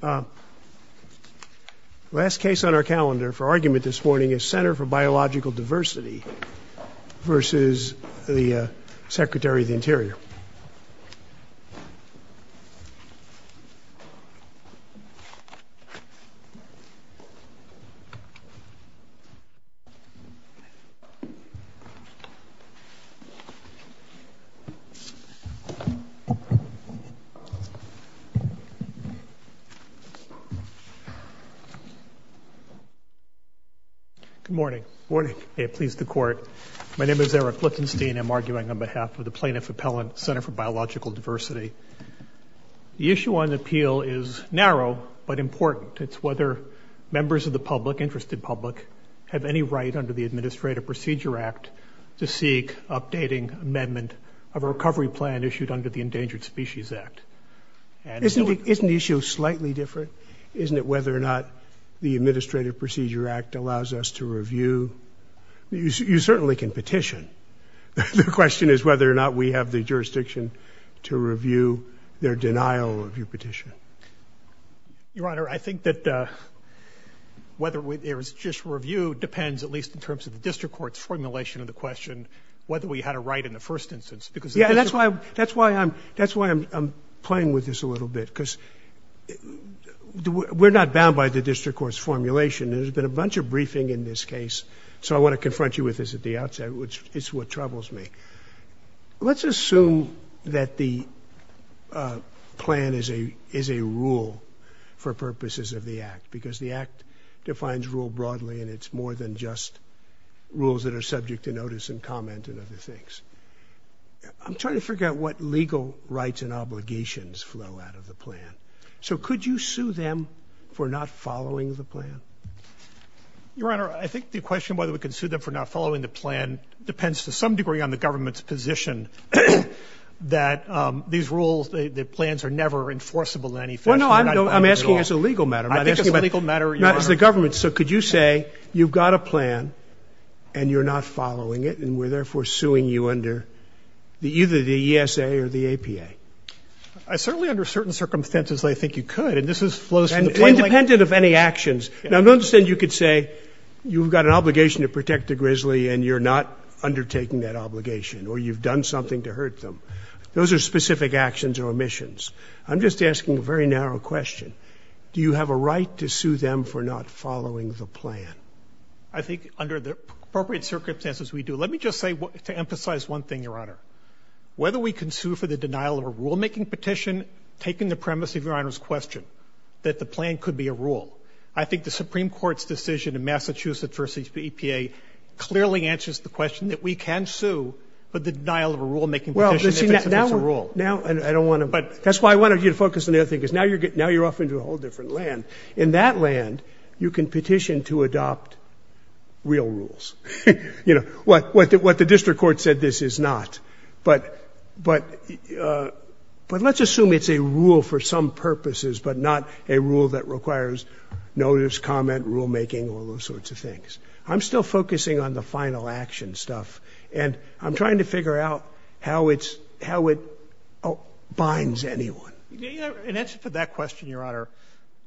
The last case on our calendar for argument this morning is Center for Biological Diversity v. Secretary of the Interior. Eric Lichtenstein, Plaintiff Appellant, Center for Biological Diversity Good morning. Good morning. May it please the Court, my name is Eric Lichtenstein. I'm arguing on behalf of the Plaintiff Appellant, Center for Biological Diversity. The issue on appeal is narrow but important. It's whether members of the public, interested public, have any right under the Administrative Procedure Act to seek updating amendment of a recovery plan issued under the Endangered Species Act. Isn't the issue slightly different? Isn't it whether or not the Administrative Procedure Act allows us to review? You certainly can petition. The question is whether or not we have the jurisdiction to review their denial of your petition. Your Honor, I think that whether there is just review depends at least in terms of the district court's formulation of the question whether we had a right in the first instance. Yeah, that's why I'm playing with this a little bit because we're not bound by the district court's formulation. There's been a bunch of briefing in this case, so I want to confront you with this at the outset, which is what troubles me. Let's assume that the plan is a rule for purposes of the Act because the Act defines rule broadly and it's more than just rules that are subject to notice and comment and other things. I'm trying to figure out what legal rights and obligations flow out of the plan. So could you sue them for not following the plan? Your Honor, I think the question whether we can sue them for not following the plan depends to some degree on the government's position that these rules, the plans, are never enforceable in any fashion. No, no, I'm asking as a legal matter. I think as a legal matter, Your Honor. Not as the government. So could you say you've got a plan and you're not following it and we're therefore suing you under either the ESA or the APA? Certainly under certain circumstances I think you could, and this flows from the plain language. Independent of any actions. Now, I don't understand you could say you've got an obligation to protect the grizzly and you're not undertaking that obligation or you've done something to hurt them. Those are specific actions or omissions. I'm just asking a very narrow question. Do you have a right to sue them for not following the plan? I think under the appropriate circumstances we do. Let me just say to emphasize one thing, Your Honor. Whether we can sue for the denial of a rulemaking petition, taking the premise of Your Honor's question, that the plan could be a rule. I think the Supreme Court's decision in Massachusetts v. EPA clearly answers the question that we can sue for the denial of a rulemaking petition if it's a rule. Now, I don't want to, but that's why I wanted you to focus on the other thing because now you're off into a whole different land. In that land, you can petition to adopt real rules. You know, what the district court said this is not. But let's assume it's a rule for some purposes, but not a rule that requires notice, comment, rulemaking, all those sorts of things. I'm still focusing on the final action stuff. And I'm trying to figure out how it binds anyone. In answer to that question, Your Honor,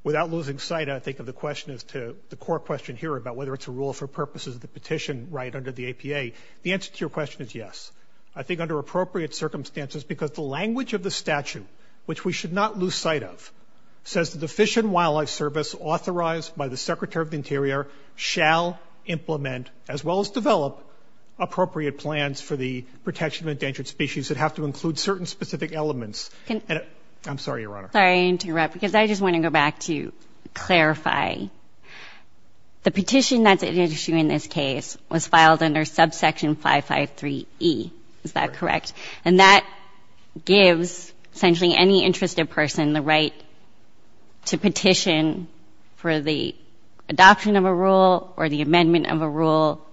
without losing sight, I think, of the question as to, the core question here about whether it's a rule for purposes of the petition right under the APA, the answer to your question is yes. I think under appropriate circumstances, because the language of the statute, which we should not lose sight of, shall implement as well as develop appropriate plans for the protection of endangered species that have to include certain specific elements. I'm sorry, Your Honor. Sorry to interrupt because I just want to go back to clarify. The petition that's at issue in this case was filed under subsection 553E. Is that correct? And that gives essentially any interested person the right to petition for the adoption of a rule or the amendment of a rule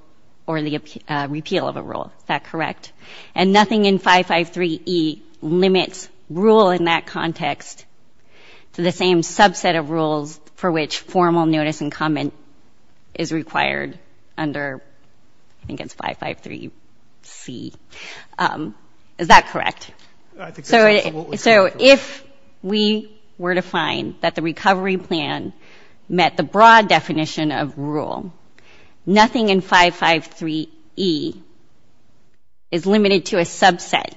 or the repeal of a rule. Is that correct? And nothing in 553E limits rule in that context to the same subset of rules for which formal notice and comment is required under, I think it's 553C. Is that correct? I think that's absolutely correct. So if we were to find that the recovery plan met the broad definition of rule, nothing in 553E is limited to a subset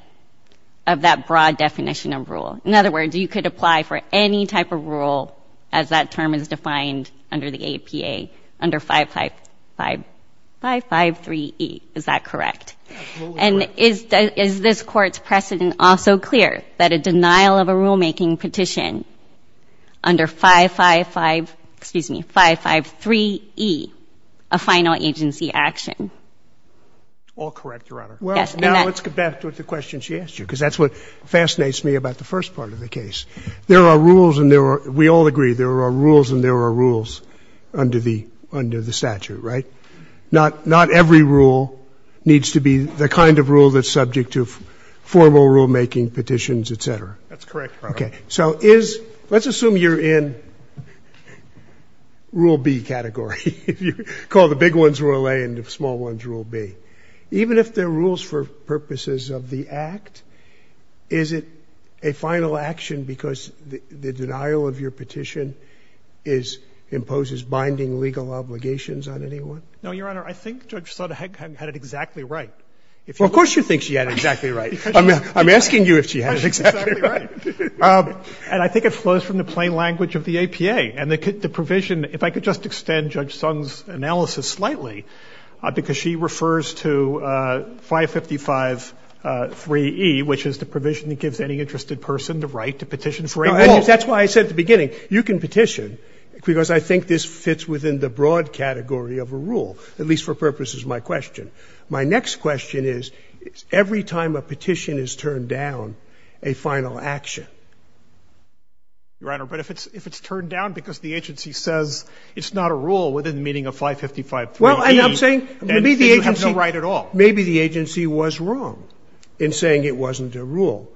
of that broad definition of rule. In other words, you could apply for any type of rule, as that term is defined under the APA, under 553E. Is that correct? And is this Court's precedent also clear that a denial of a rulemaking petition under 555, excuse me, 553E, a final agency action? All correct, Your Honor. Well, now let's get back to the question she asked you because that's what fascinates me about the first part of the case. There are rules and there are we all agree there are rules and there are rules under the statute, right? Not every rule needs to be the kind of rule that's subject to formal rulemaking, petitions, et cetera. That's correct, Your Honor. Okay. So let's assume you're in rule B category. Call the big ones rule A and the small ones rule B. Even if there are rules for purposes of the act, is it a final action because the denial of your petition imposes binding legal obligations on anyone? No, Your Honor. I think Judge Sotomayor had it exactly right. Well, of course you think she had it exactly right. I'm asking you if she had it exactly right. And I think it flows from the plain language of the APA. And the provision, if I could just extend Judge Sotomayor's analysis slightly, because she refers to 555, 3E, which is the provision that gives any interested person the right to petition for a rule. That's why I said at the beginning, you can petition, because I think this fits within the broad category of a rule, at least for purposes of my question. My next question is, every time a petition is turned down, a final action? Your Honor, but if it's turned down because the agency says it's not a rule within the meaning of 555, 3E, then you have no right at all. Maybe the agency was wrong in saying it wasn't a rule.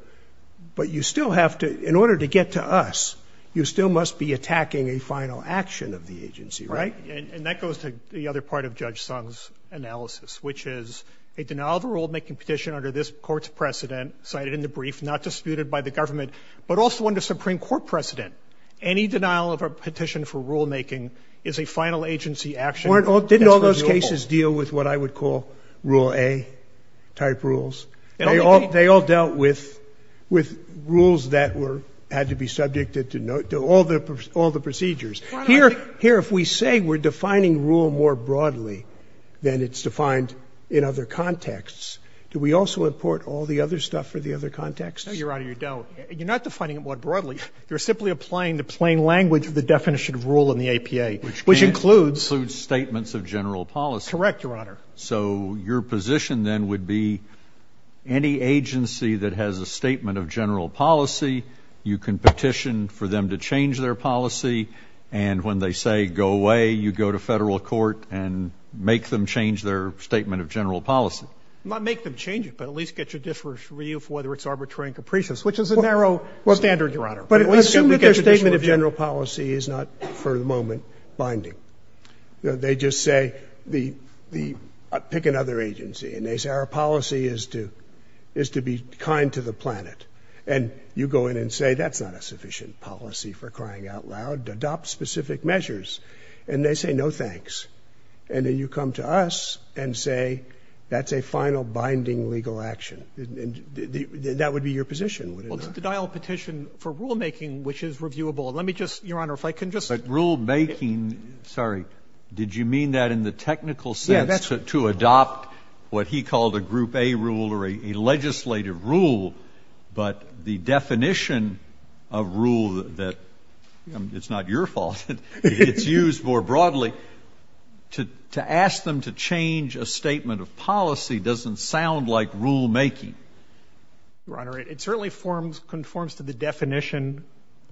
But you still have to, in order to get to us, you still must be attacking a final action of the agency, right? And that goes to the other part of Judge Sung's analysis, which is a denial of a rulemaking petition under this Court's precedent cited in the brief, not disputed by the government, but also under Supreme Court precedent. Any denial of a petition for rulemaking is a final agency action. Didn't all those cases deal with what I would call Rule A-type rules? They all dealt with rules that had to be subjected to all the procedures. Here, if we say we're defining rule more broadly than it's defined in other contexts, do we also import all the other stuff for the other contexts? No, Your Honor, you don't. You're not defining it more broadly. You're simply applying the plain language of the definition of rule in the APA, which includes. Which includes statements of general policy. Correct, Your Honor. So your position then would be any agency that has a statement of general policy, you can petition for them to change their policy, and when they say go away, you go to Federal court and make them change their statement of general policy. Not make them change it, but at least get judiciary review for whether it's arbitrary and capricious, which is a narrow standard, Your Honor. But assume that their statement of general policy is not, for the moment, binding. They just say pick another agency, and they say our policy is to be kind to the planet. And you go in and say that's not a sufficient policy, for crying out loud. Adopt specific measures. And they say no, thanks. And then you come to us and say that's a final binding legal action. That would be your position, would it not? Well, to dial a petition for rulemaking, which is reviewable. Let me just, Your Honor, if I can just. Rulemaking, sorry. Did you mean that in the technical sense to adopt what he called a group A rule or a legislative rule, but the definition of rule that, it's not your fault, it's used more broadly, to ask them to change a statement of policy doesn't sound like rulemaking. Your Honor, it certainly conforms to the definition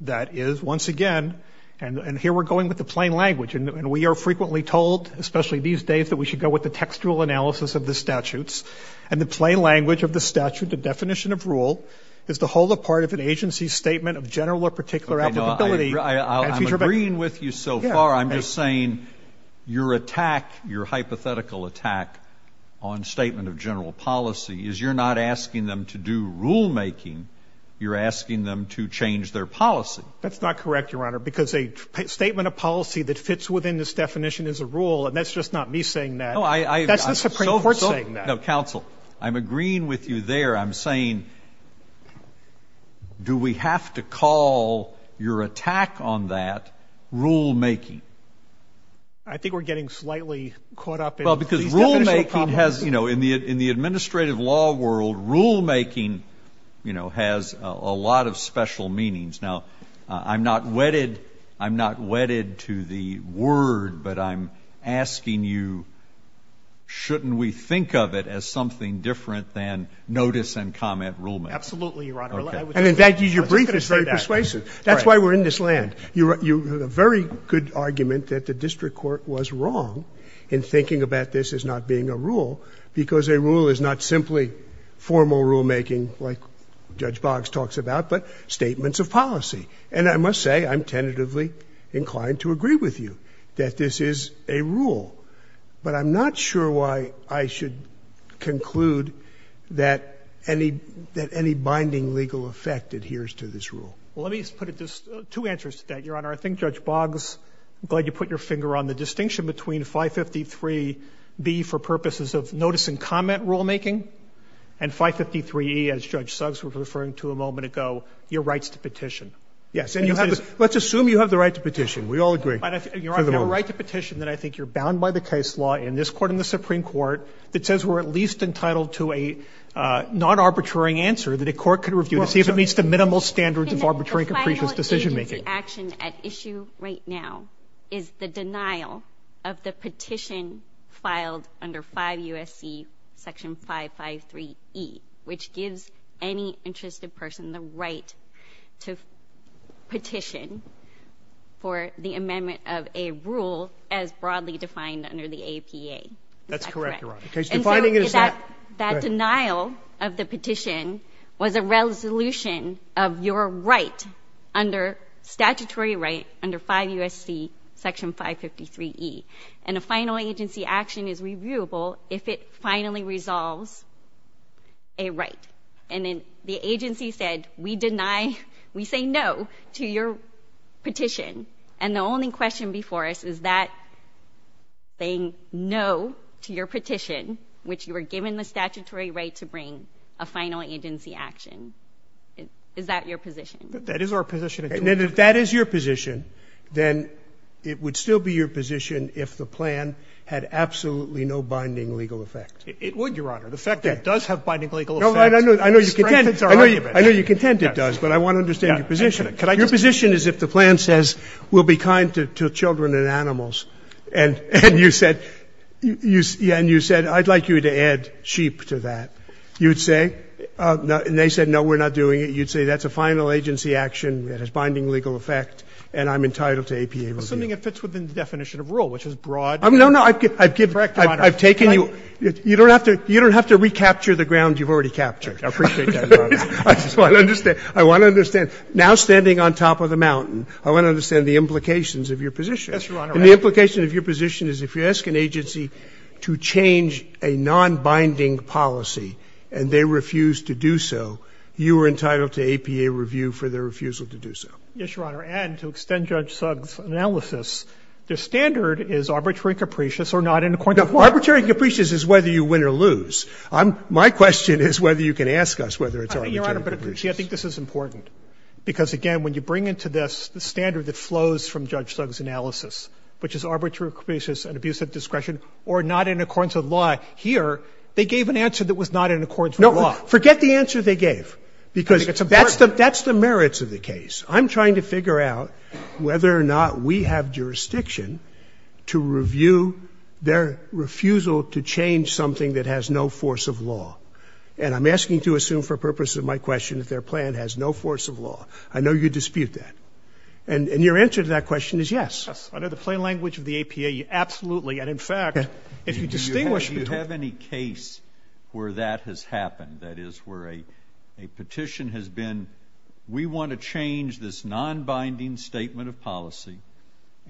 that is, once again, and here we're going with the plain language. And we are frequently told, especially these days, that we should go with the textual analysis of the statutes. And the plain language of the statute, the definition of rule, is to hold a part of an agency's statement of general or particular applicability. I'm agreeing with you so far. I'm just saying your attack, your hypothetical attack on statement of general policy is you're not asking them to do rulemaking. You're asking them to change their policy. That's not correct, Your Honor, because a statement of policy that fits within this definition is a rule, and that's just not me saying that. That's the Supreme Court saying that. No, counsel, I'm agreeing with you there. I'm saying do we have to call your attack on that rulemaking? I think we're getting slightly caught up in the definition of rulemaking. Well, because rulemaking has, you know, in the administrative law world, rulemaking, you know, has a lot of special meanings. Now, I'm not wedded to the word, but I'm asking you, shouldn't we think of it as something different than notice and comment rulemaking? Absolutely, Your Honor. And, in fact, your brief is very persuasive. That's why we're in this land. You have a very good argument that the district court was wrong in thinking about this as not being a rule because a rule is not simply formal rulemaking like Judge Boggs talks about, but statements of policy. And I must say I'm tentatively inclined to agree with you that this is a rule. But I'm not sure why I should conclude that any binding legal effect adheres to this rule. Well, let me put it this way. Two answers to that, Your Honor. I think Judge Boggs, I'm glad you put your finger on the distinction between 553B for purposes of notice and comment rulemaking and 553E, as Judge Suggs was referring to a moment ago, your rights to petition. Yes. Let's assume you have the right to petition. We all agree. Your right to petition that I think you're bound by the case law in this Court and the Supreme Court that says we're at least entitled to a non-arbitrary answer that a court could review to see if it meets the minimal standards of arbitrary and capricious decision-making. The action at issue right now is the denial of the petition filed under 5 U.S.C. section 553E, which gives any interested person the right to petition for the amendment of a rule as broadly defined under the APA. Is that correct? That's correct, Your Honor. The case defining it is that. That denial of the petition was a resolution of your right under statutory right under 5 U.S.C. section 553E. And a final agency action is reviewable if it finally resolves a right. And then the agency said we deny, we say no to your petition. And the only question before us is that saying no to your petition, which you were given the statutory right to bring a final agency action, is that your position? That is our position. And if that is your position, then it would still be your position if the plan had absolutely no binding legal effect. It would, Your Honor. The fact that it does have binding legal effect strengthens our argument. I know you're content it does, but I want to understand your position. Your position is if the plan says we'll be kind to children and animals and you said I'd like you to add sheep to that. You'd say, and they said no, we're not doing it. You'd say that's a final agency action that has binding legal effect and I'm entitled to APA review. Assuming it fits within the definition of rule, which is broad. No, no. I've taken you. You don't have to recapture the ground you've already captured. I appreciate that, Your Honor. I just want to understand. I want to understand. Now standing on top of the mountain, I want to understand the implications of your position. Yes, Your Honor. And the implication of your position is if you ask an agency to change a nonbinding policy and they refuse to do so, you are entitled to APA review for their refusal to do so. Yes, Your Honor. And to extend Judge Sugg's analysis, the standard is arbitrary capricious or not in accordance with law. Arbitrary capricious is whether you win or lose. My question is whether you can ask us whether it's arbitrary capricious. I think, Your Honor, I think this is important. Because, again, when you bring into this the standard that flows from Judge Sugg's analysis, which is arbitrary capricious and abuse of discretion or not in accordance with law, here they gave an answer that was not in accordance with law. No. Forget the answer they gave, because that's the merits of the case. I'm trying to figure out whether or not we have jurisdiction to review their refusal to change something that has no force of law. And I'm asking you to assume for purposes of my question that their plan has no force of law. I know you dispute that. And your answer to that question is yes. Under the plain language of the APA, absolutely. And, in fact, if you distinguish between the two. Do you have any case where that has happened? That is, where a petition has been, we want to change this nonbinding statement of policy,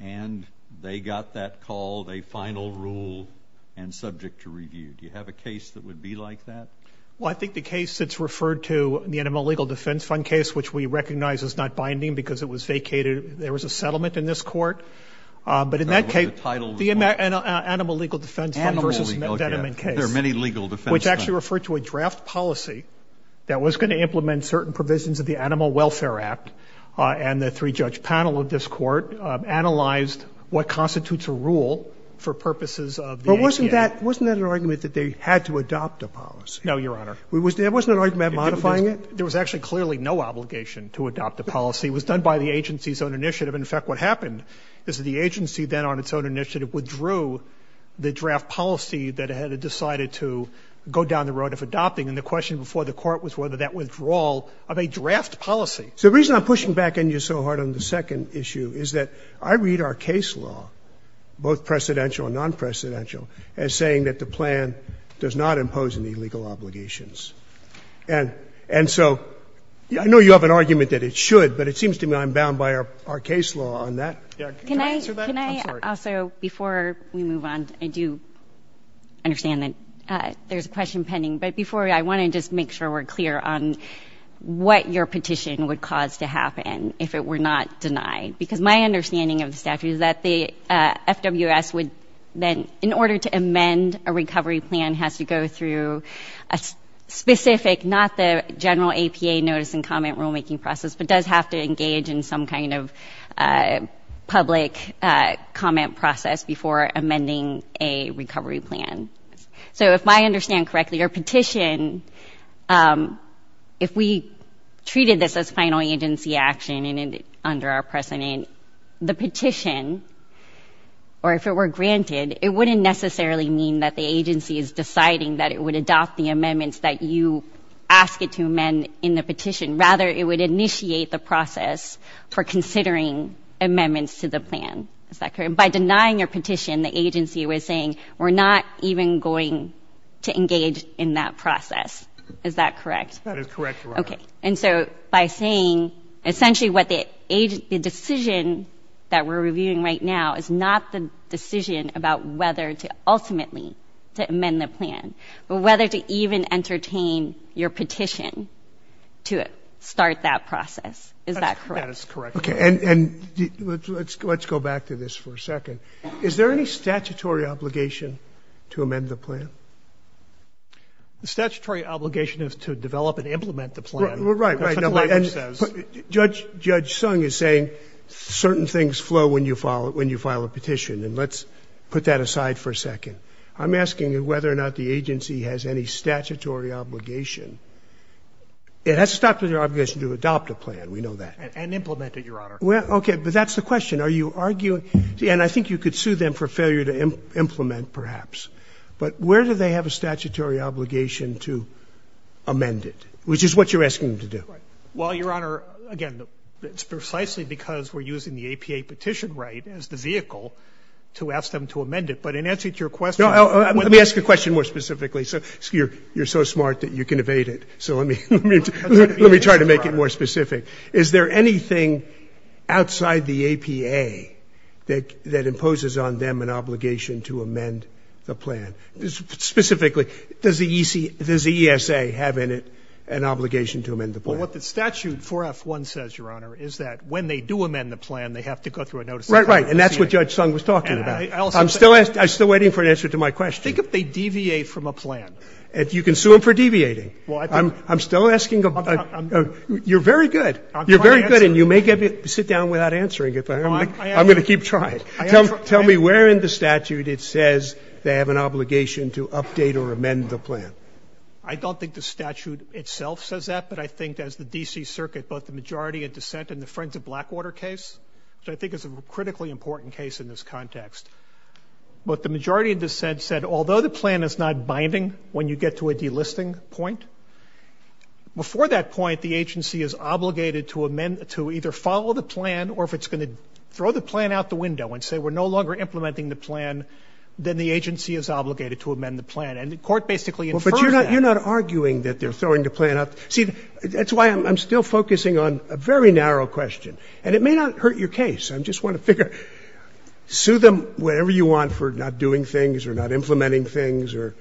and they got that called a final rule and subject to review. Do you have a case that would be like that? Well, I think the case that's referred to in the Animal Legal Defense Fund case, which we recognize is not binding because it was vacated, there was a settlement in this Court, but in that case, the Animal Legal Defense Fund v. Veneman case, which actually referred to a draft policy that was going to implement certain provisions of the Animal Welfare Act, and the three-judge panel of this Court analyzed what constitutes a rule for purposes of the APA. But wasn't that an argument that they had to adopt a policy? No, Your Honor. Wasn't that an argument modifying it? There was actually clearly no obligation to adopt a policy. It was done by the agency's own initiative. In fact, what happened is that the agency then on its own initiative withdrew the draft policy that it had decided to go down the road of adopting. And the question before the Court was whether that withdrawal of a draft policy. So the reason I'm pushing back on you so hard on the second issue is that I read our case law, both precedential and nonprecedential, as saying that the plan does not impose any legal obligations. And so I know you have an argument that it should, but it seems to me I'm bound by our case law on that. Can I answer that? I'm sorry. Can I also, before we move on, I do understand that there's a question pending. But before, I want to just make sure we're clear on what your petition would cause to happen if it were not denied. Because my understanding of the statute is that the FWS would then, in order to amend a recovery plan, has to go through a specific, not the general APA notice and comment rulemaking process, but does have to engage in some kind of public comment process before amending a recovery plan. So if I understand correctly, your petition, if we treated this as final agency action under our precedent, the petition, or if it were granted, it wouldn't necessarily mean that the agency is deciding that it would adopt the amendments that you ask it to amend in the petition. Rather, it would initiate the process for considering amendments to the plan. Is that correct? And by denying your petition, the agency was saying, we're not even going to engage in that process. Is that correct? That is correct, Your Honor. Okay. And so by saying, essentially what the decision that we're reviewing right now is not the decision about whether to ultimately amend the plan, but whether to even entertain your petition to start that process. Is that correct? That is correct, Your Honor. Okay. And let's go back to this for a second. Is there any statutory obligation to amend the plan? The statutory obligation is to develop and implement the plan. Right, right. And Judge Sung is saying certain things flow when you file a petition. And let's put that aside for a second. I'm asking whether or not the agency has any statutory obligation. It has a statutory obligation to adopt a plan. We know that. And implement it, Your Honor. Well, okay. But that's the question. Are you arguing? And I think you could sue them for failure to implement, perhaps. But where do they have a statutory obligation to amend it, which is what you're asking them to do? Well, Your Honor, again, it's precisely because we're using the APA petition right as the vehicle to ask them to amend it. But in answer to your question. Let me ask you a question more specifically. You're so smart that you can evade it. So let me try to make it more specific. Is there anything outside the APA that imposes on them an obligation to amend the plan? Specifically, does the ESA have in it an obligation to amend the plan? Well, what the statute 4F1 says, Your Honor, is that when they do amend the plan, they have to go through a notice of penalty. Right, right. And that's what Judge Sung was talking about. I'm still waiting for an answer to my question. Think if they deviate from a plan. You can sue them for deviating. I'm still asking. You're very good. You're very good. And you may sit down without answering. I'm going to keep trying. Tell me where in the statute it says they have an obligation to update or amend the plan. I don't think the statute itself says that, but I think as the D.C. Circuit, both the majority in dissent and the Friends of Blackwater case, which I think is a critically important case in this context, what the majority of dissent said, although the plan is not binding when you get to a delisting point, before that point, the agency is obligated to amend, to either follow the plan or if it's going to throw the plan out the window and say we're no longer implementing the plan, then the agency is obligated to amend the plan. And the Court basically infers that. But you're not arguing that they're throwing the plan out. See, that's why I'm still focusing on a very narrow question. And it may not hurt your case. I just want to figure, sue them whenever you want for not doing things or not implementing things or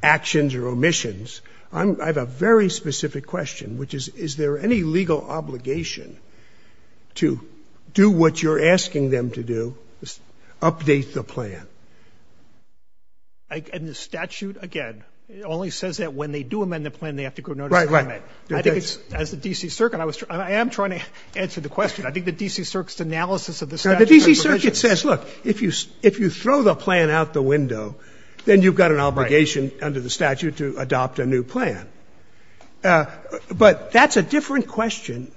actions or omissions. I have a very specific question, which is, is there any legal obligation to do what you're asking them to do, update the plan? And the statute, again, it only says that when they do amend the plan, they have to go notice the comment. Right, right. I think it's, as the D.C. Circuit, I am trying to answer the question. I think the D.C. Circuit's analysis of the statute is provisional. The D.C. Circuit says, look, if you throw the plan out the window, then you've got an obligation under the statute to adopt a new plan. But that's a different question.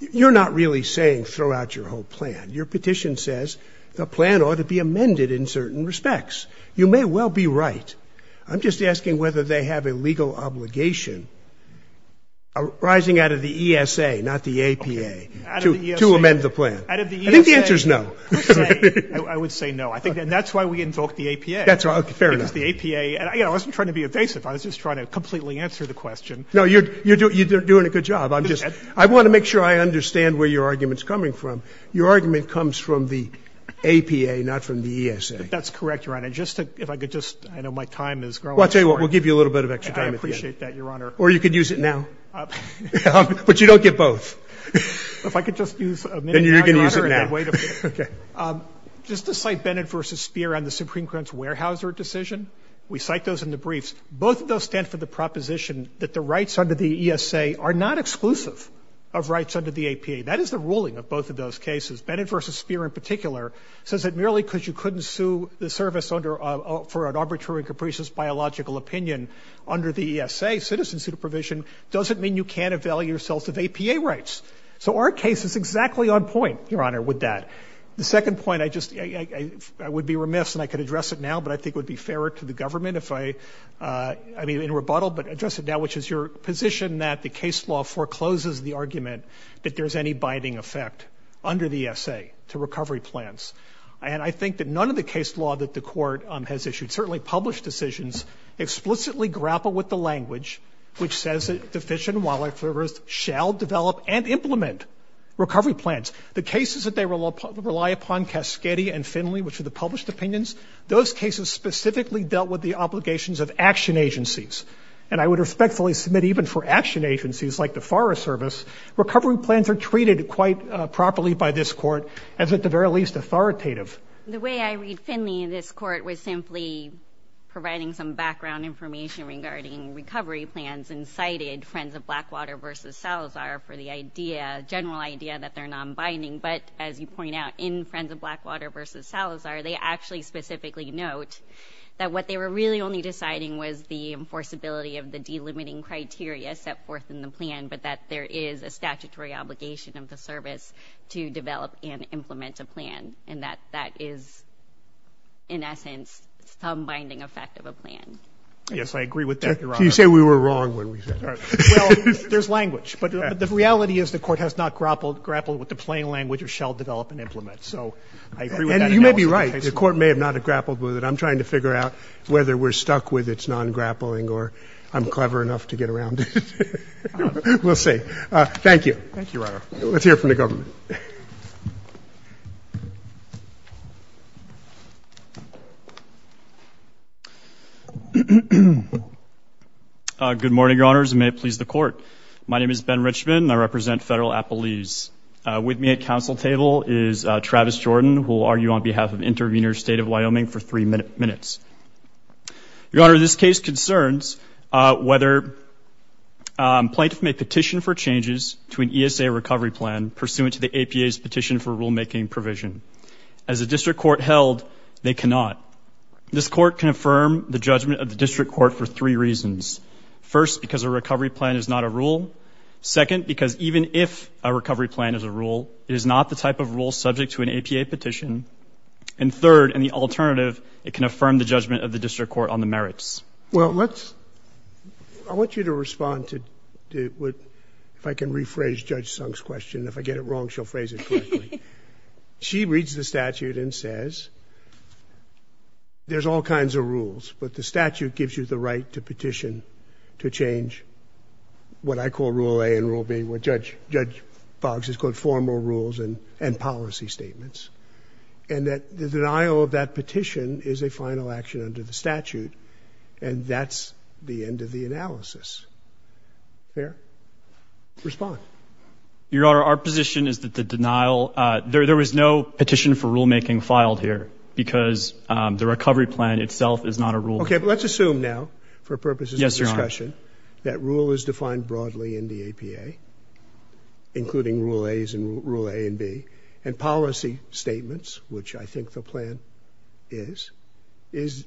You're not really saying throw out your whole plan. Your petition says the plan ought to be amended in certain respects. You may well be right. I'm just asking whether they have a legal obligation arising out of the ESA, not the APA. To amend the plan. I think the answer is no. I would say no. And that's why we invoked the APA. Fair enough. Because the APA, and I wasn't trying to be evasive. I was just trying to completely answer the question. No, you're doing a good job. I want to make sure I understand where your argument's coming from. Your argument comes from the APA, not from the ESA. That's correct, Your Honor. Just to, if I could just, I know my time is growing. Well, I'll tell you what, we'll give you a little bit of extra time at the end. I appreciate that, Your Honor. Or you could use it now. But you don't get both. If I could just use a minute, Your Honor. Then you can use it now. Okay. Just to cite Bennett v. Speer on the Supreme Court's Weyerhaeuser decision. We cite those in the briefs. Both of those stand for the proposition that the rights under the ESA are not exclusive of rights under the APA. That is the ruling of both of those cases. Bennett v. Speer in particular says that merely because you couldn't sue the service for an arbitrary and capricious biological opinion under the ESA, citizen supervision, doesn't mean you can't avail yourselves of APA rights. So our case is exactly on point, Your Honor, with that. The second point, I just, I would be remiss and I could address it now, but I think it would be fairer to the government if I, I mean in rebuttal, but address it now, which is your position that the case law forecloses the argument that there's any binding effect under the ESA to recovery plans. And I think that none of the case law that the Court has issued, certainly published decisions, explicitly grapple with the language which says that the Fish and Wildlife Service shall develop and implement recovery plans. The cases that they rely upon, Cascade and Finley, which are the published opinions, those cases specifically dealt with the obligations of action agencies. And I would respectfully submit even for action agencies like the Forest Service, recovery plans are treated quite properly by this Court as at the very least authoritative. The way I read Finley, this Court was simply providing some background information regarding recovery plans and cited Friends of Blackwater v. Salazar for the idea, general idea that they're non-binding. But as you point out, in Friends of Blackwater v. Salazar, they actually specifically note that what they were really only deciding was the enforceability of the delimiting criteria set forth in the plan, but that there is a statutory obligation of the service to develop and implement that is, in essence, some binding effect of a plan. Yes, I agree with that, Your Honor. You say we were wrong when we said that. Well, there's language. But the reality is the Court has not grappled with the plain language of shall develop and implement. So I agree with that analysis. And you may be right. The Court may have not grappled with it. I'm trying to figure out whether we're stuck with its non-grappling or I'm clever enough to get around it. We'll see. Thank you. Thank you, Your Honor. Let's hear from the government. Good morning, Your Honors, and may it please the Court. My name is Ben Richman, and I represent Federal Appellees. With me at Council table is Travis Jordan, who will argue on behalf of Intervenors State of Wyoming for three minutes. Your Honor, this case concerns whether plaintiffs may petition for changes to the APA's petition for rulemaking provision. As a district court held, they cannot. This court can affirm the judgment of the district court for three reasons. First, because a recovery plan is not a rule. Second, because even if a recovery plan is a rule, it is not the type of rule subject to an APA petition. And third, and the alternative, it can affirm the judgment of the district court on the merits. Well, let's – I want you to respond to – if I can rephrase Judge Sung's question, and if I get it wrong, she'll phrase it correctly. She reads the statute and says there's all kinds of rules, but the statute gives you the right to petition to change what I call Rule A and Rule B, what Judge Boggs has called formal rules and policy statements, and that the denial of that petition is a final action under the statute, and that's the end of the analysis. Fair? Respond. Your Honor, our position is that the denial – there was no petition for rulemaking filed here because the recovery plan itself is not a rule. Okay, but let's assume now, for purposes of discussion, that rule is defined broadly in the APA, including Rule As and Rule A and B, and policy statements, which I think the plan is, is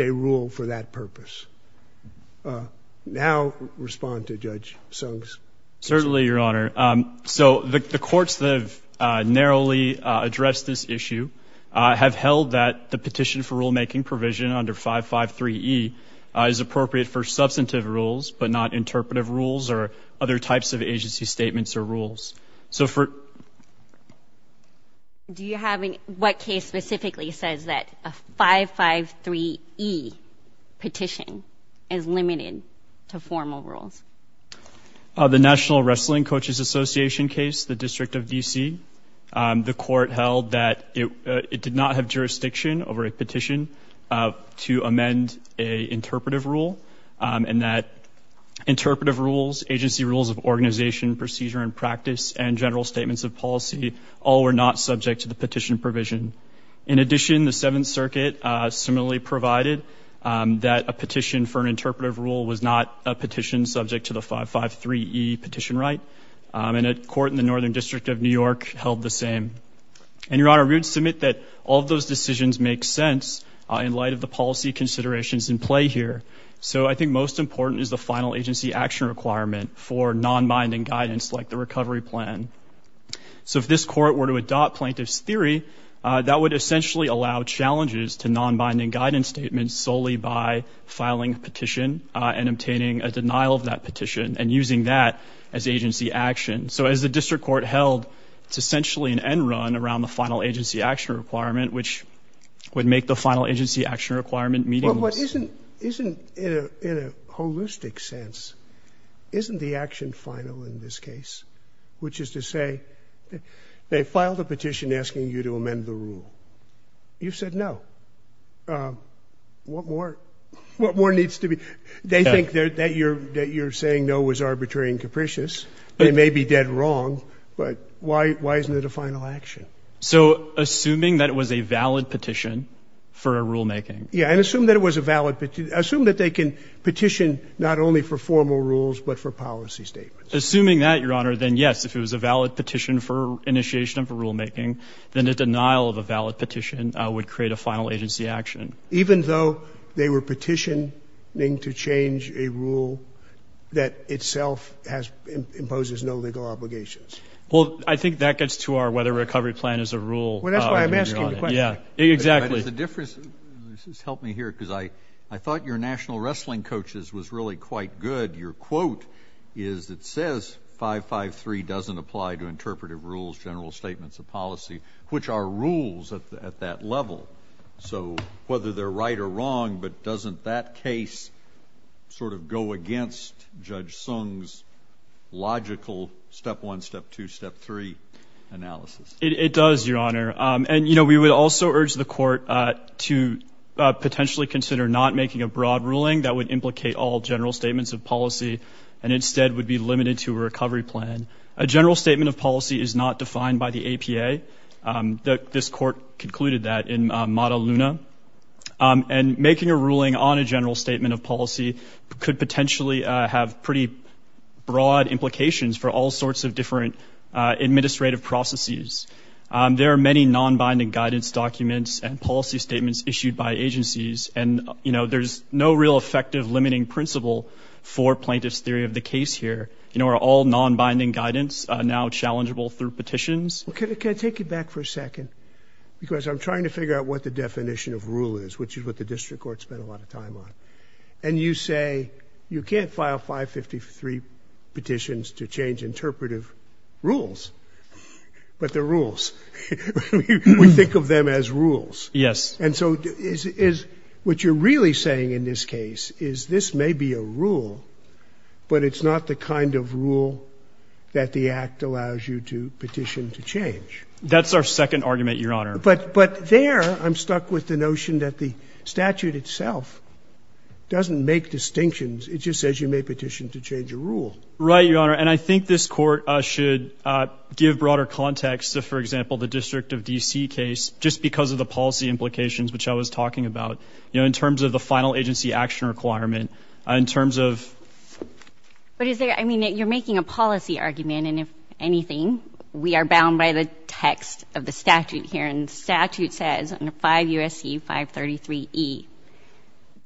a rule for that purpose. Now respond to Judge Sung's question. Certainly, Your Honor. So the courts that have narrowly addressed this issue have held that the petition for rulemaking provision under 553E is appropriate for substantive rules but not interpretive rules or other types of agency statements or rules. So for – Do you have any – what case specifically says that a 553E petition is limited to formal rules? The National Wrestling Coaches Association case, the District of D.C. The court held that it did not have jurisdiction over a petition to amend an interpretive rule, and that interpretive rules, agency rules of organization, procedure and practice, and general statements of policy all were not subject to the petition provision. In addition, the Seventh Circuit similarly provided that a petition for an interpretive rule was not subject to the 553E petition right. And a court in the Northern District of New York held the same. And, Your Honor, we would submit that all those decisions make sense in light of the policy considerations in play here. So I think most important is the final agency action requirement for non-binding guidance like the recovery plan. So if this court were to adopt plaintiff's theory, that would essentially allow challenges to non-binding guidance statements solely by filing a petition and obtaining a denial of that petition and using that as agency action. So as the district court held, it's essentially an end run around the final agency action requirement, which would make the final agency action requirement meaningless. Well, what isn't in a holistic sense, isn't the action final in this case, which is to say they filed a petition asking you to amend the rule. You said no. What more? What more needs to be? They think that you're saying no was arbitrary and capricious. They may be dead wrong, but why isn't it a final action? So assuming that it was a valid petition for a rulemaking. Yeah, and assume that it was a valid petition. Assume that they can petition not only for formal rules but for policy statements. Assuming that, Your Honor, then yes, if it was a valid petition for initiation of a rulemaking, then a denial of a valid petition would create a final agency action. Even though they were petitioning to change a rule that itself imposes no legal obligations. Well, I think that gets to our whether a recovery plan is a rule. Well, that's why I'm asking the question. Yeah, exactly. But is the difference. Help me here because I thought your national wrestling coaches was really quite good. Your quote is it says 553 doesn't apply to interpretive rules, general statements of policy, which are rules at that level. So whether they're right or wrong, but doesn't that case sort of go against Judge Sung's logical step one, step two, step three analysis? It does, Your Honor. And, you know, we would also urge the court to potentially consider not making a broad ruling that would implicate all general statements of policy and instead would be limited to a recovery plan. A general statement of policy is not defined by the APA. This court concluded that in Mata Luna. And making a ruling on a general statement of policy could potentially have pretty broad implications for all sorts of different administrative processes. There are many non-binding guidance documents and policy statements issued by agencies. And, you know, there's no real effective limiting principle for plaintiff's theory of the case here. You know, are all non-binding guidance now challengeable through petitions? Okay. Can I take you back for a second? Because I'm trying to figure out what the definition of rule is, which is what the district court spent a lot of time on. And you say you can't file 553 petitions to change interpretive rules. But they're rules. We think of them as rules. Yes. And so is what you're really saying in this case is this may be a rule, but it's not the kind of rule that the Act allows you to petition to change? That's our second argument, Your Honor. But there I'm stuck with the notion that the statute itself doesn't make distinctions. It just says you may petition to change a rule. Right, Your Honor. And I think this Court should give broader context to, for example, the District of D.C. case, just because of the policy implications which I was talking about, you know, in terms of the final agency action requirement, in terms of... But is there... I mean, you're making a policy argument. And if anything, we are bound by the text of the statute here. And the statute says under 5 U.S.C. 533E,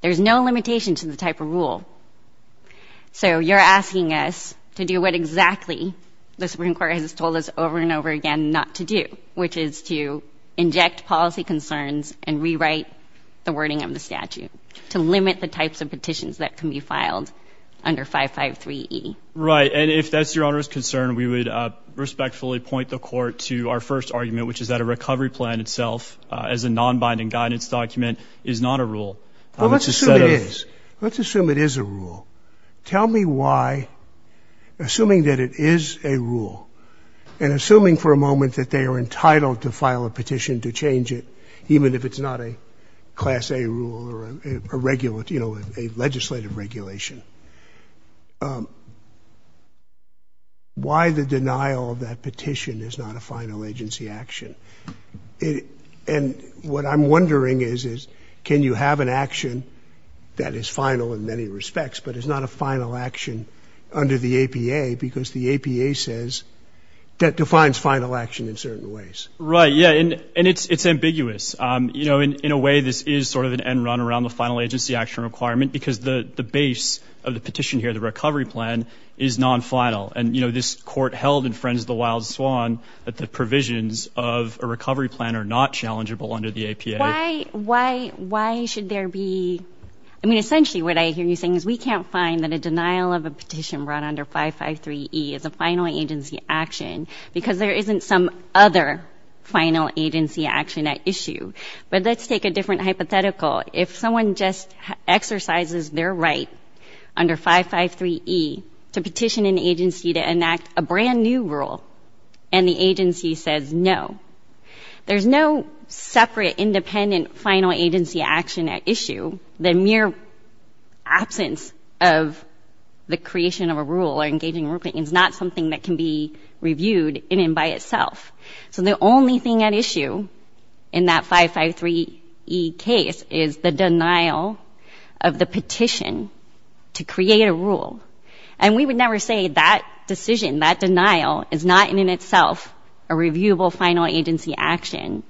there's no limitation to the type of rule. So you're asking us to do what exactly the Supreme Court has told us over and over again not to do, which is to inject policy concerns and rewrite the wording of the statute, to limit the types of petitions that can be filed under 553E. Right. And if that's Your Honor's concern, we would respectfully point the Court to our first argument, which is that a recovery plan itself, as a non-binding guidance document, is not a rule. Well, let's assume it is. Let's assume it is a rule. Tell me why, assuming that it is a rule, and assuming for a moment that they are entitled to file a petition to change it, even if it's not a Class A rule or a legislative regulation, why the denial of that petition is not a final agency action? And what I'm wondering is, is can you have an action that is final in many respects, but is not a final action under the APA, because the APA says that defines final action in certain ways? Right. Yeah. And it's ambiguous. In a way, this is sort of an end run around the final agency action requirement, because the base of the petition here, the recovery plan, is non-final. And this Court held in Friends of the Wild Swan that the provisions of a recovery plan are not challengeable under the APA. Why should there be – I mean, essentially what I hear you saying is we can't find that a denial of a petition brought under 553E is a final agency action, because there isn't some other final agency action at issue. But let's take a different hypothetical. If someone just exercises their right under 553E to petition an agency to enact a brand-new rule, and the agency says no, there's no separate, independent final agency action at issue, the mere absence of the creation of a rule or engaging in a ruling is not something that can be reviewed in and by itself. So the only thing at issue in that 553E case is the denial of the petition to create a rule. And we would never say that decision, that denial, is not in and of itself a reviewable final agency action.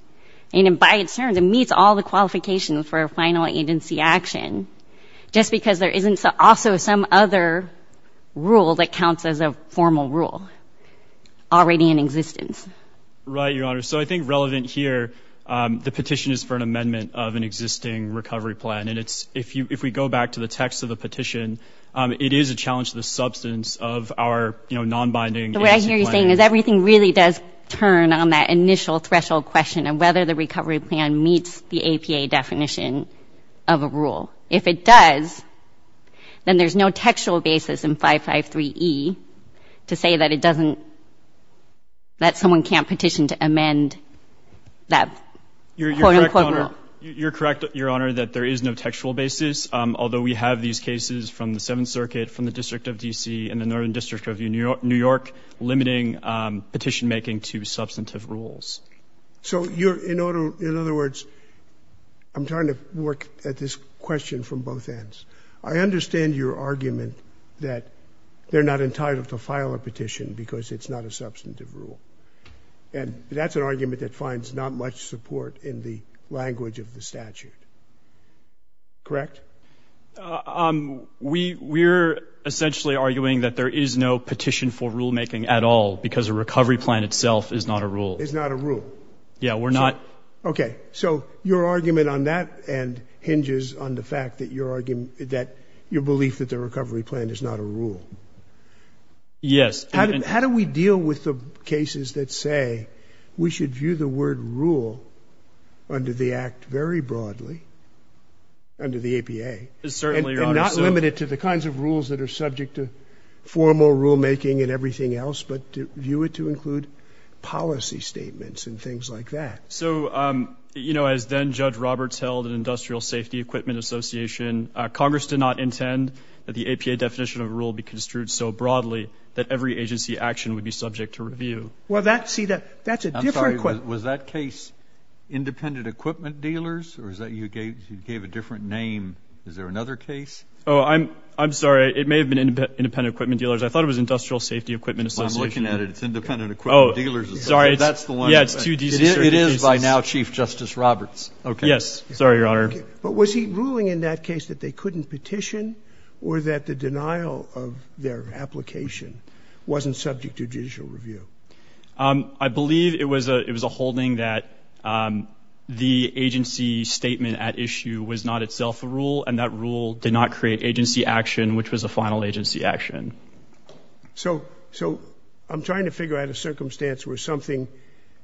And by its terms, it meets all the qualifications for a final agency action, just because there isn't also some other rule that counts as a formal rule already in existence. Right, Your Honor. So I think relevant here, the petition is for an amendment of an existing recovery plan. And if we go back to the text of the petition, it is a challenge to the substance of our nonbinding agency plan. So what I hear you saying is everything really does turn on that initial threshold question of whether the recovery plan meets the APA definition of a rule. If it does, then there's no textual basis in 553E to say that it doesn't, that someone can't petition to amend that quote-unquote rule. You're correct, Your Honor, that there is no textual basis. Although we have these cases from the Seventh Circuit, from the District of D.C., and the Northern District of New York limiting petition-making to substantive rules. So you're, in other words, I'm trying to work at this question from both ends. I understand your argument that they're not entitled to file a petition because it's not a substantive rule. And that's an argument that finds not much support in the language of the statute. Correct? We're essentially arguing that there is no petition for rulemaking at all because a recovery plan itself is not a rule. Is not a rule. Yeah, we're not. Okay. So your argument on that end hinges on the fact that your belief that the recovery plan is not a rule. Yes. How do we deal with the cases that say we should view the word rule under the Act very broadly, under the APA? Certainly, Your Honor. And not limit it to the kinds of rules that are subject to formal rulemaking and everything else, but to view it to include policy statements and things like that. So, you know, as then-Judge Roberts held at Industrial Safety Equipment Association, Congress did not intend that the APA definition of rule be construed so broadly that every agency action would be subject to review. Well, that, see, that's a different question. Was that case Independent Equipment Dealers, or is that you gave a different name? Is there another case? Oh, I'm sorry. It may have been Independent Equipment Dealers. I thought it was Industrial Safety Equipment Association. I'm looking at it. It's Independent Equipment Dealers. Oh, sorry. That's the one. It is by now Chief Justice Roberts. Okay. Yes. Sorry, Your Honor. But was he ruling in that case that they couldn't petition or that the denial of their application wasn't subject to judicial review? I believe it was a holding that the agency statement at issue was not itself a rule, and that rule did not create agency action, which was a final agency action. So I'm trying to figure out a circumstance where something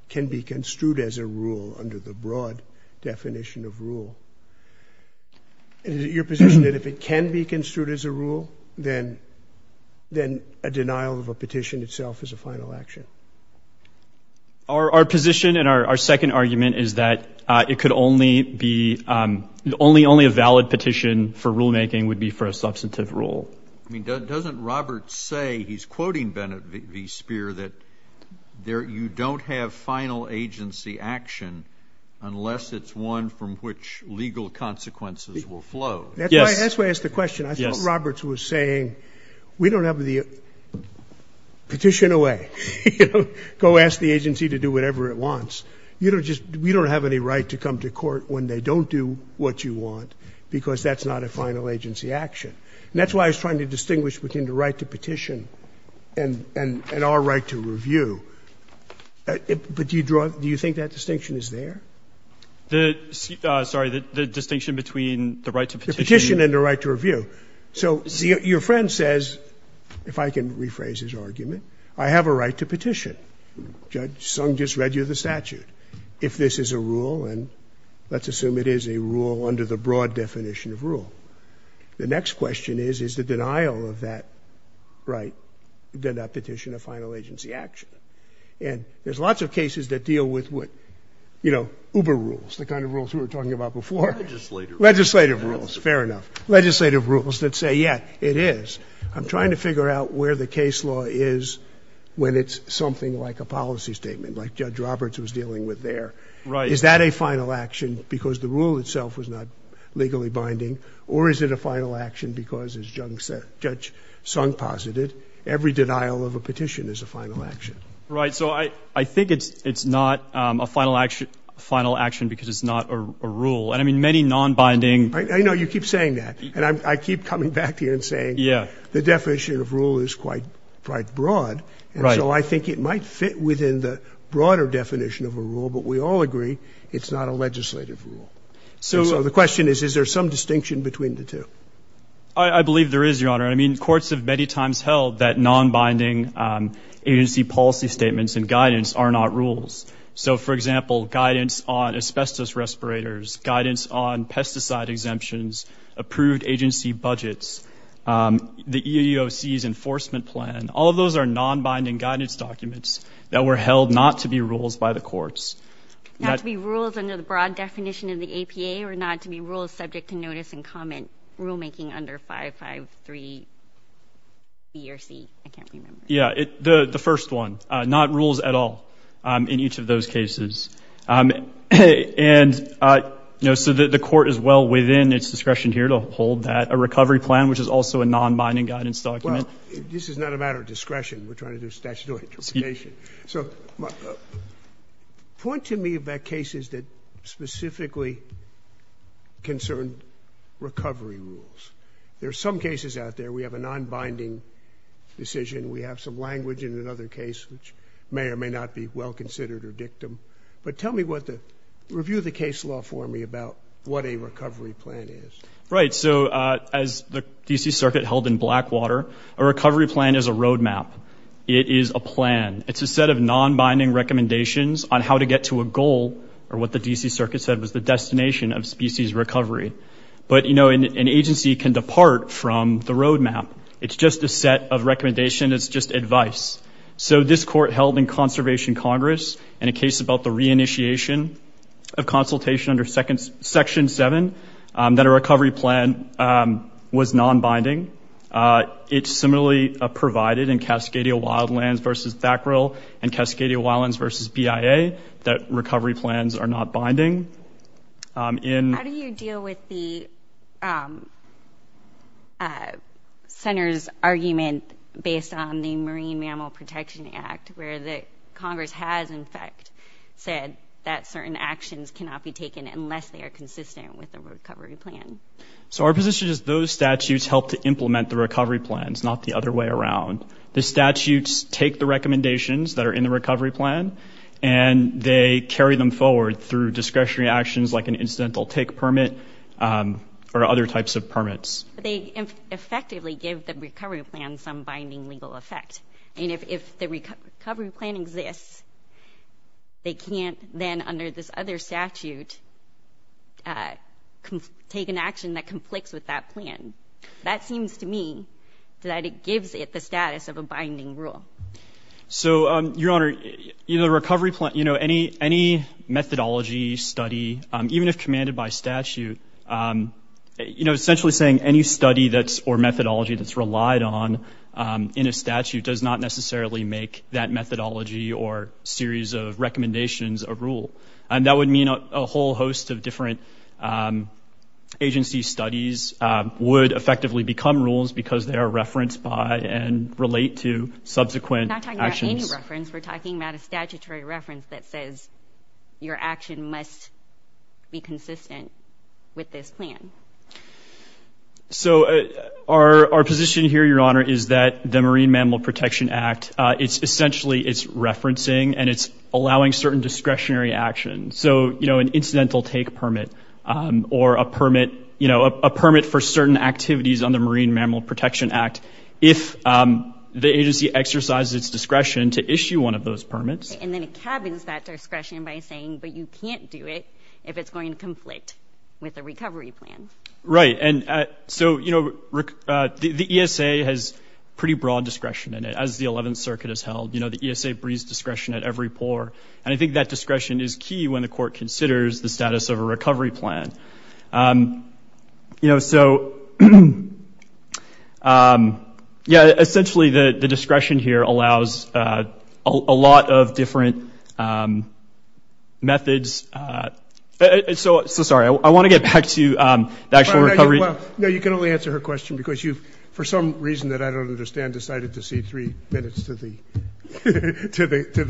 can be construed as a rule under the broad definition of rule. Is it your position that if it can be construed as a rule, then a denial of a petition? Our position and our second argument is that it could only be – only a valid petition for rulemaking would be for a substantive rule. I mean, doesn't Roberts say – he's quoting Bennett v. Speer – that you don't have final agency action unless it's one from which legal consequences will flow? Yes. That's why I asked the question. Yes. I mean, I think that's what Roberts was saying. We don't have the – petition away. You know, go ask the agency to do whatever it wants. You don't just – we don't have any right to come to court when they don't do what you want because that's not a final agency action. And that's why I was trying to distinguish between the right to petition and our right to review. But do you draw – do you think that distinction is there? The – sorry, the distinction between the right to petition and the right to review. The petition and the right to review. So your friend says – if I can rephrase his argument – I have a right to petition. Judge Sung just read you the statute. If this is a rule – and let's assume it is a rule under the broad definition of rule – the next question is, is the denial of that right, the petition, a final agency action? And there's lots of cases that deal with what – you know, Uber rules, the kind of rules we were talking about before. Legislative rules. Legislative rules. Fair enough. Legislative rules that say, yeah, it is. I'm trying to figure out where the case law is when it's something like a policy statement, like Judge Roberts was dealing with there. Right. Is that a final action because the rule itself was not legally binding? Or is it a final action because, as Judge Sung posited, every denial of a petition is a final action? Right. So I think it's not a final action because it's not a rule. And, I mean, many nonbinding – I know. You keep saying that. And I keep coming back to you and saying the definition of rule is quite broad. Right. And so I think it might fit within the broader definition of a rule, but we all agree it's not a legislative rule. So the question is, is there some distinction between the two? I believe there is, Your Honor. I mean, courts have many times held that nonbinding agency policy statements and guidance are not rules. So, for example, guidance on asbestos respirators, guidance on pesticide exemptions, approved agency budgets, the EEOC's enforcement plan, all of those are nonbinding guidance documents that were held not to be rules by the courts. Not to be rules under the broad definition of the APA or not to be rules subject to notice and comment rulemaking under 553B or C. I can't remember. Yeah. The first one. Not rules at all in each of those cases. And, you know, so the court is well within its discretion here to hold that. A recovery plan, which is also a nonbinding guidance document. Well, this is not a matter of discretion. We're trying to do statutory interpretation. So point to me about cases that specifically concern recovery rules. There are some cases out there we have a nonbinding decision. We have some language in another case which may or may not be well considered or dictum. But tell me what the review of the case law for me about what a recovery plan is. Right. So as the D.C. Circuit held in Blackwater, a recovery plan is a roadmap. It is a plan. It's a set of nonbinding recommendations on how to get to a goal or what the D.C. Circuit said was the destination of species recovery. But, you know, an agency can depart from the roadmap. It's just a set of recommendations. It's just advice. So this court held in Conservation Congress in a case about the re-initiation of consultation under Section 7 that a recovery plan was nonbinding. It's similarly provided in Cascadia Wildlands v. Thackrell and Cascadia Wildlands v. BIA that recovery plans are not binding. How do you deal with the center's argument based on the Marine Mammal Protection Act where the Congress has, in fact, said that certain actions cannot be taken unless they are consistent with a recovery plan? So our position is those statutes help to implement the recovery plans, not the other way around. The statutes take the recommendations that are in the recovery plan, and they carry them forward through discretionary actions like an incidental take permit or other types of permits. They effectively give the recovery plan some binding legal effect. And if the recovery plan exists, they can't then, under this other statute, take an action that conflicts with that plan. That seems to me that it gives it the status of a binding rule. So, Your Honor, in a recovery plan, you know, any methodology, study, even if commanded by statute, you know, essentially saying any study that's or methodology that's relied on in a statute does not necessarily make that methodology or series of recommendations a rule. And that would mean a whole host of different agency studies would effectively become rules because they are referenced by and relate to subsequent actions. We're not talking about any reference. We're talking about a statutory reference that says your action must be consistent with this plan. So our position here, Your Honor, is that the Marine Mammal Protection Act, it's essentially it's referencing and it's allowing certain discretionary action. So, you know, an incidental take permit or a permit, you know, a permit for certain activities on the Marine Mammal Protection Act, if the agency exercises its discretion to issue one of those permits. And then it cabins that discretion by saying, but you can't do it if it's going to conflict with the recovery plan. Right. And so, you know, the ESA has pretty broad discretion in it. That's how the circuit is held. You know, the ESA breathes discretion at every pore. And I think that discretion is key when the court considers the status of a recovery plan. You know, so, yeah, essentially the discretion here allows a lot of different methods. So sorry, I want to get back to the actual recovery. No, you can only answer her question because you've, for some reason that I don't understand, decided to see three minutes to the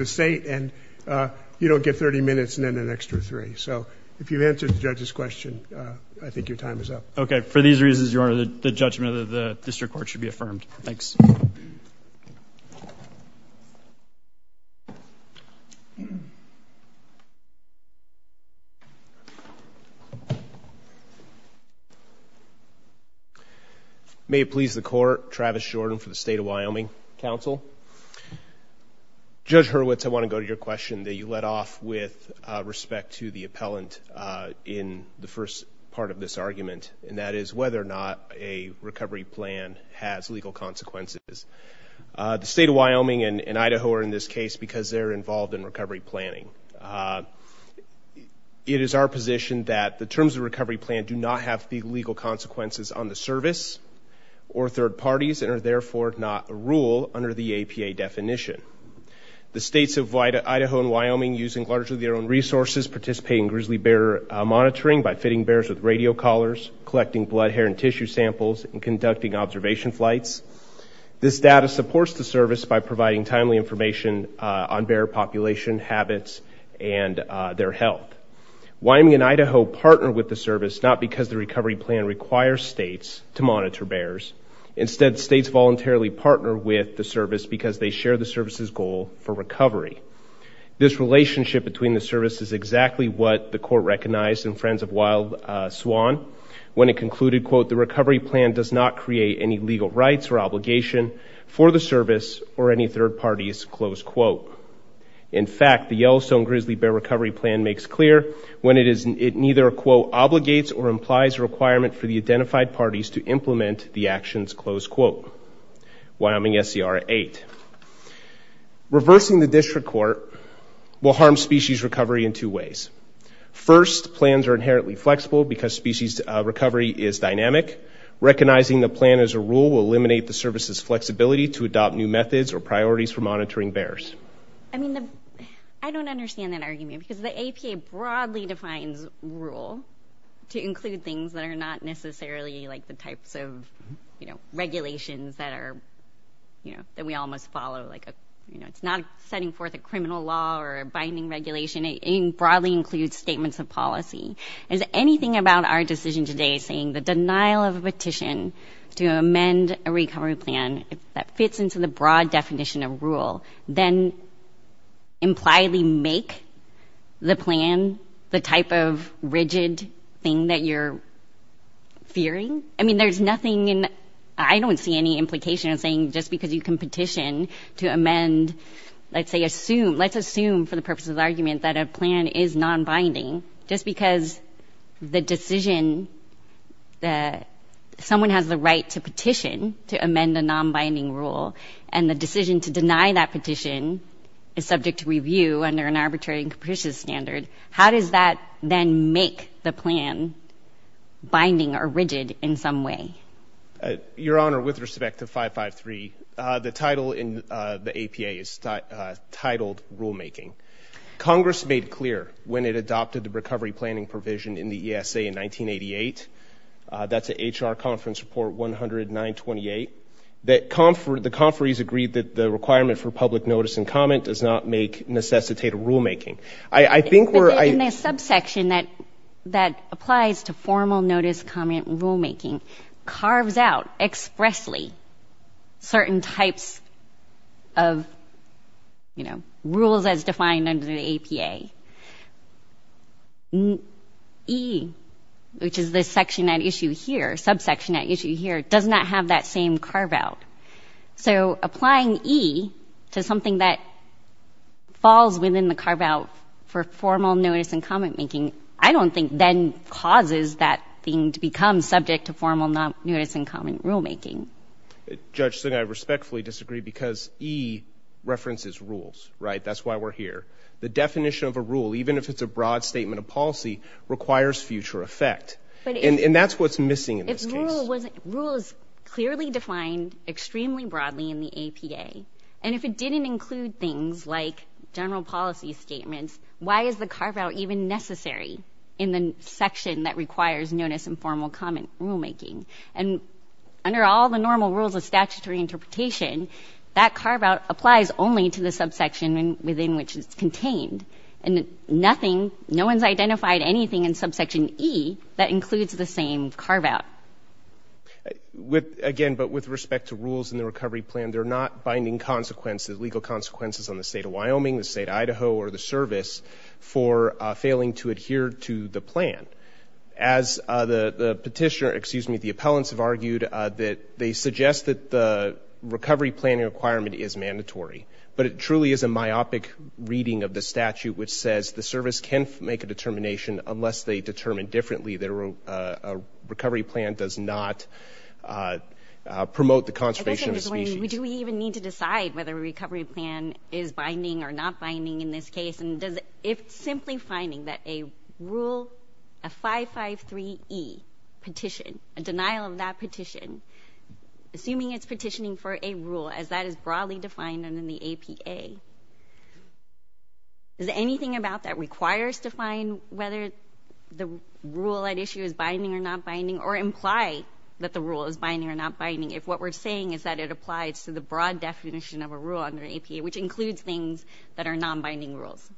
state and you don't get 30 minutes and then an extra three. So if you answered the judge's question, I think your time is up. Okay. For these reasons, Your Honor, the judgment of the district court should be affirmed. Thanks. May it please the court. Travis Jordan for the State of Wyoming Council. Judge Hurwitz, I want to go to your question that you let off with respect to the appellant in the first part of this argument. And that is whether or not a recovery plan has legal consequences. The State of Wyoming and Idaho are in this case because they're involved in recovery planning. It is our position that the terms of the recovery plan do not have legal consequences on the service or third parties and are therefore not a rule under the APA definition. The states of Idaho and Wyoming, using largely their own resources, participate in grizzly bear monitoring by fitting bears with radio collars, collecting blood, hair, and tissue samples, and conducting observation flights. This data supports the service by providing timely information on bear population habits and their health. Wyoming and Idaho partner with the service not because the recovery plan requires states to monitor bears. Instead, states voluntarily partner with the service because they share the service's goal for recovery. This relationship between the service is exactly what the court recognized in Friends of Wild Swan when it concluded, quote, the recovery plan does not create any legal rights or obligation for the service or any third parties, close quote. In fact, the Yellowstone Grizzly Bear Recovery Plan makes clear when it neither, quote, obligates or implies a requirement for the identified parties to implement the actions, close quote. Wyoming SCR 8. Reversing the district court will harm species recovery in two ways. First, plans are inherently flexible because species recovery is dynamic recognizing the plan as a rule will eliminate the service's flexibility to adopt new methods or priorities for monitoring bears. I mean, I don't understand that argument because the APA broadly defines rule to include things that are not necessarily like the types of, you know, regulations that are, you know, that we all must follow. Like, you know, it's not setting forth a criminal law or a binding regulation. It broadly includes statements of policy. Is anything about our decision today saying the denial of a petition to amend a recovery plan that fits into the broad definition of rule then impliedly make the plan the type of rigid thing that you're fearing? I mean, there's nothing in, I don't see any implication of saying just because you can petition to amend, let's say, assume, let's assume for the purposes of argument that a plan is non-binding just because the decision that someone has the right to petition to amend a non-binding rule and the decision to deny that petition is subject to review under an arbitrary and capricious standard. How does that then make the plan binding or rigid in some way? Your Honor, with respect to 553, the title in the APA is titled Rulemaking. Congress made clear when it adopted the recovery planning provision in the ESA in 1988, that's an HR Conference Report 10928, that the conferees agreed that the requirement for public notice and comment does not make necessitated rulemaking. I think we're... But in the subsection that applies to formal notice, comment, rulemaking carves out expressly certain types of, you know, rules as defined under the APA. E, which is this section at issue here, subsection at issue here, does not have that same carve-out. So applying E to something that falls within the carve-out for formal notice and comment making, I don't think then causes that thing to become subject to formal notice and comment rulemaking. Judge Singh, I respectfully disagree because E references rules, right? That's why we're here. The definition of a rule, even if it's a broad statement of policy, requires future effect. And that's what's missing in this case. Rule is clearly defined extremely broadly in the APA, and if it didn't include things like general policy statements, why is the carve-out even necessary in the section that requires notice and formal comment rulemaking? And under all the normal rules of statutory interpretation, that carve-out applies only to the subsection within which it's contained. And nothing, no one's identified anything in subsection E that includes the same carve-out. Again, but with respect to rules in the recovery plan, they're not binding consequences, legal consequences on the state of Wyoming, the state of Idaho, or the service for failing to adhere to the plan. As the petitioner, excuse me, the appellants have argued that they suggest that the recovery plan requirement is mandatory, but it truly is a myopic reading of the statute which says the service can make a determination unless they determine differently that a recovery plan does not promote the conservation of the species. I guess I'm just wondering, do we even need to decide whether a recovery plan is binding or not binding in this case? And if simply finding that a rule, a 553E petition, a denial of that petition, assuming it's petitioning for a rule as that is broadly defined under the APA, is there anything about that requires to find whether the rule at issue is binding or not binding or imply that the rule is binding or not binding if what we're saying is that it applies to the broad definition of a rule under the APA, which includes things that are non-binding rules?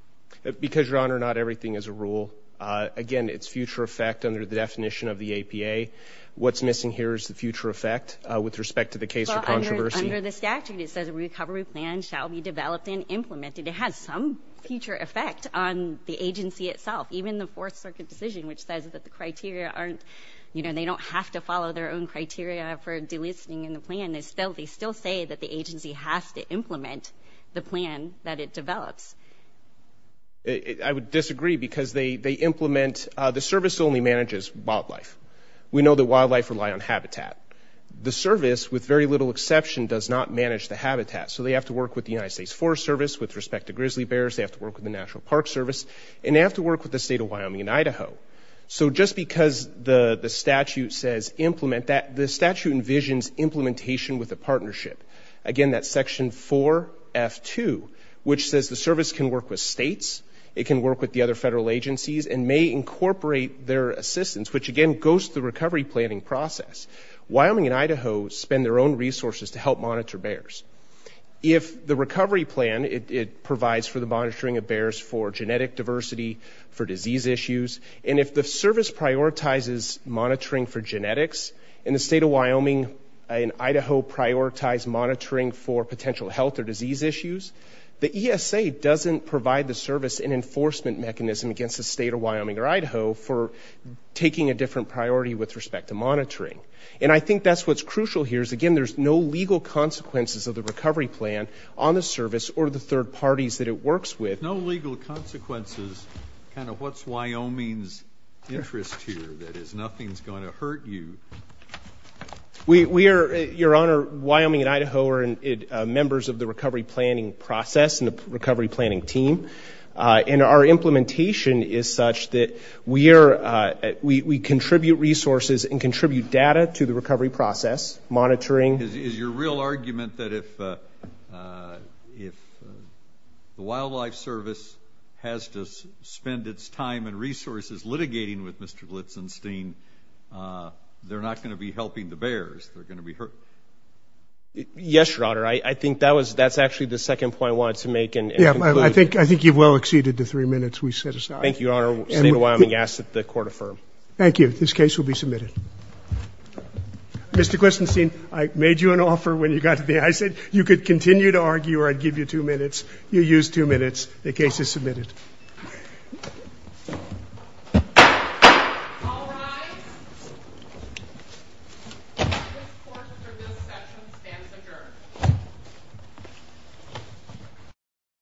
Because, Your Honor, not everything is a rule. Again, it's future effect under the definition of the APA. What's missing here is the future effect with respect to the case of controversy. Well, under the statute it says a recovery plan shall be developed and implemented. It has some future effect on the agency itself. Even the Fourth Circuit decision which says that the criteria aren't, you know, they don't have to follow their own criteria for delisting in the plan. And they still say that the agency has to implement the plan that it develops. I would disagree because they implement, the service only manages wildlife. We know that wildlife rely on habitat. The service, with very little exception, does not manage the habitat. So they have to work with the United States Forest Service with respect to grizzly bears. They have to work with the National Park Service. And they have to work with the State of Wyoming and Idaho. So just because the statute says implement, that the statute envisions implementation with a partnership. Again, that's section 4F2, which says the service can work with states, it can work with the other federal agencies, and may incorporate their assistance, which again goes to the recovery planning process. Wyoming and Idaho spend their own resources to help monitor bears. If the recovery plan, it provides for the monitoring of bears for genetic diversity, for disease issues, and if the service prioritizes monitoring for genetics, and the State of Wyoming and Idaho prioritize monitoring for potential health or disease issues, the ESA doesn't provide the service an enforcement mechanism against the State of Wyoming or Idaho for taking a different priority with respect to monitoring. And I think that's what's crucial here, is again, there's no legal consequences of the recovery plan on the service or the third parties that it works with. No legal consequences, kind of what's Wyoming's interest here, that is nothing's going to hurt you. We are, Your Honor, Wyoming and Idaho are members of the recovery planning process and the recovery planning team. And our implementation is such that we are, we contribute resources and contribute data to the recovery process, monitoring. Is your real argument that if the Wildlife Service has to spend its time and resources litigating with Mr. Blitzen, they're not going to be helping the bears? They're going to be hurting? Yes, Your Honor. I think that's actually the second point I wanted to make. Yeah, I think you've well exceeded the three minutes we set aside. Thank you, Your Honor. State of Wyoming asks that the court affirm. Thank you. This case will be submitted. Mr. Glistenstein, I made you an offer when you got to the ISA. You could continue to argue or I'd give you two minutes. You used two minutes. The case is submitted. Thank you. All rise. This court's review session stands adjourned.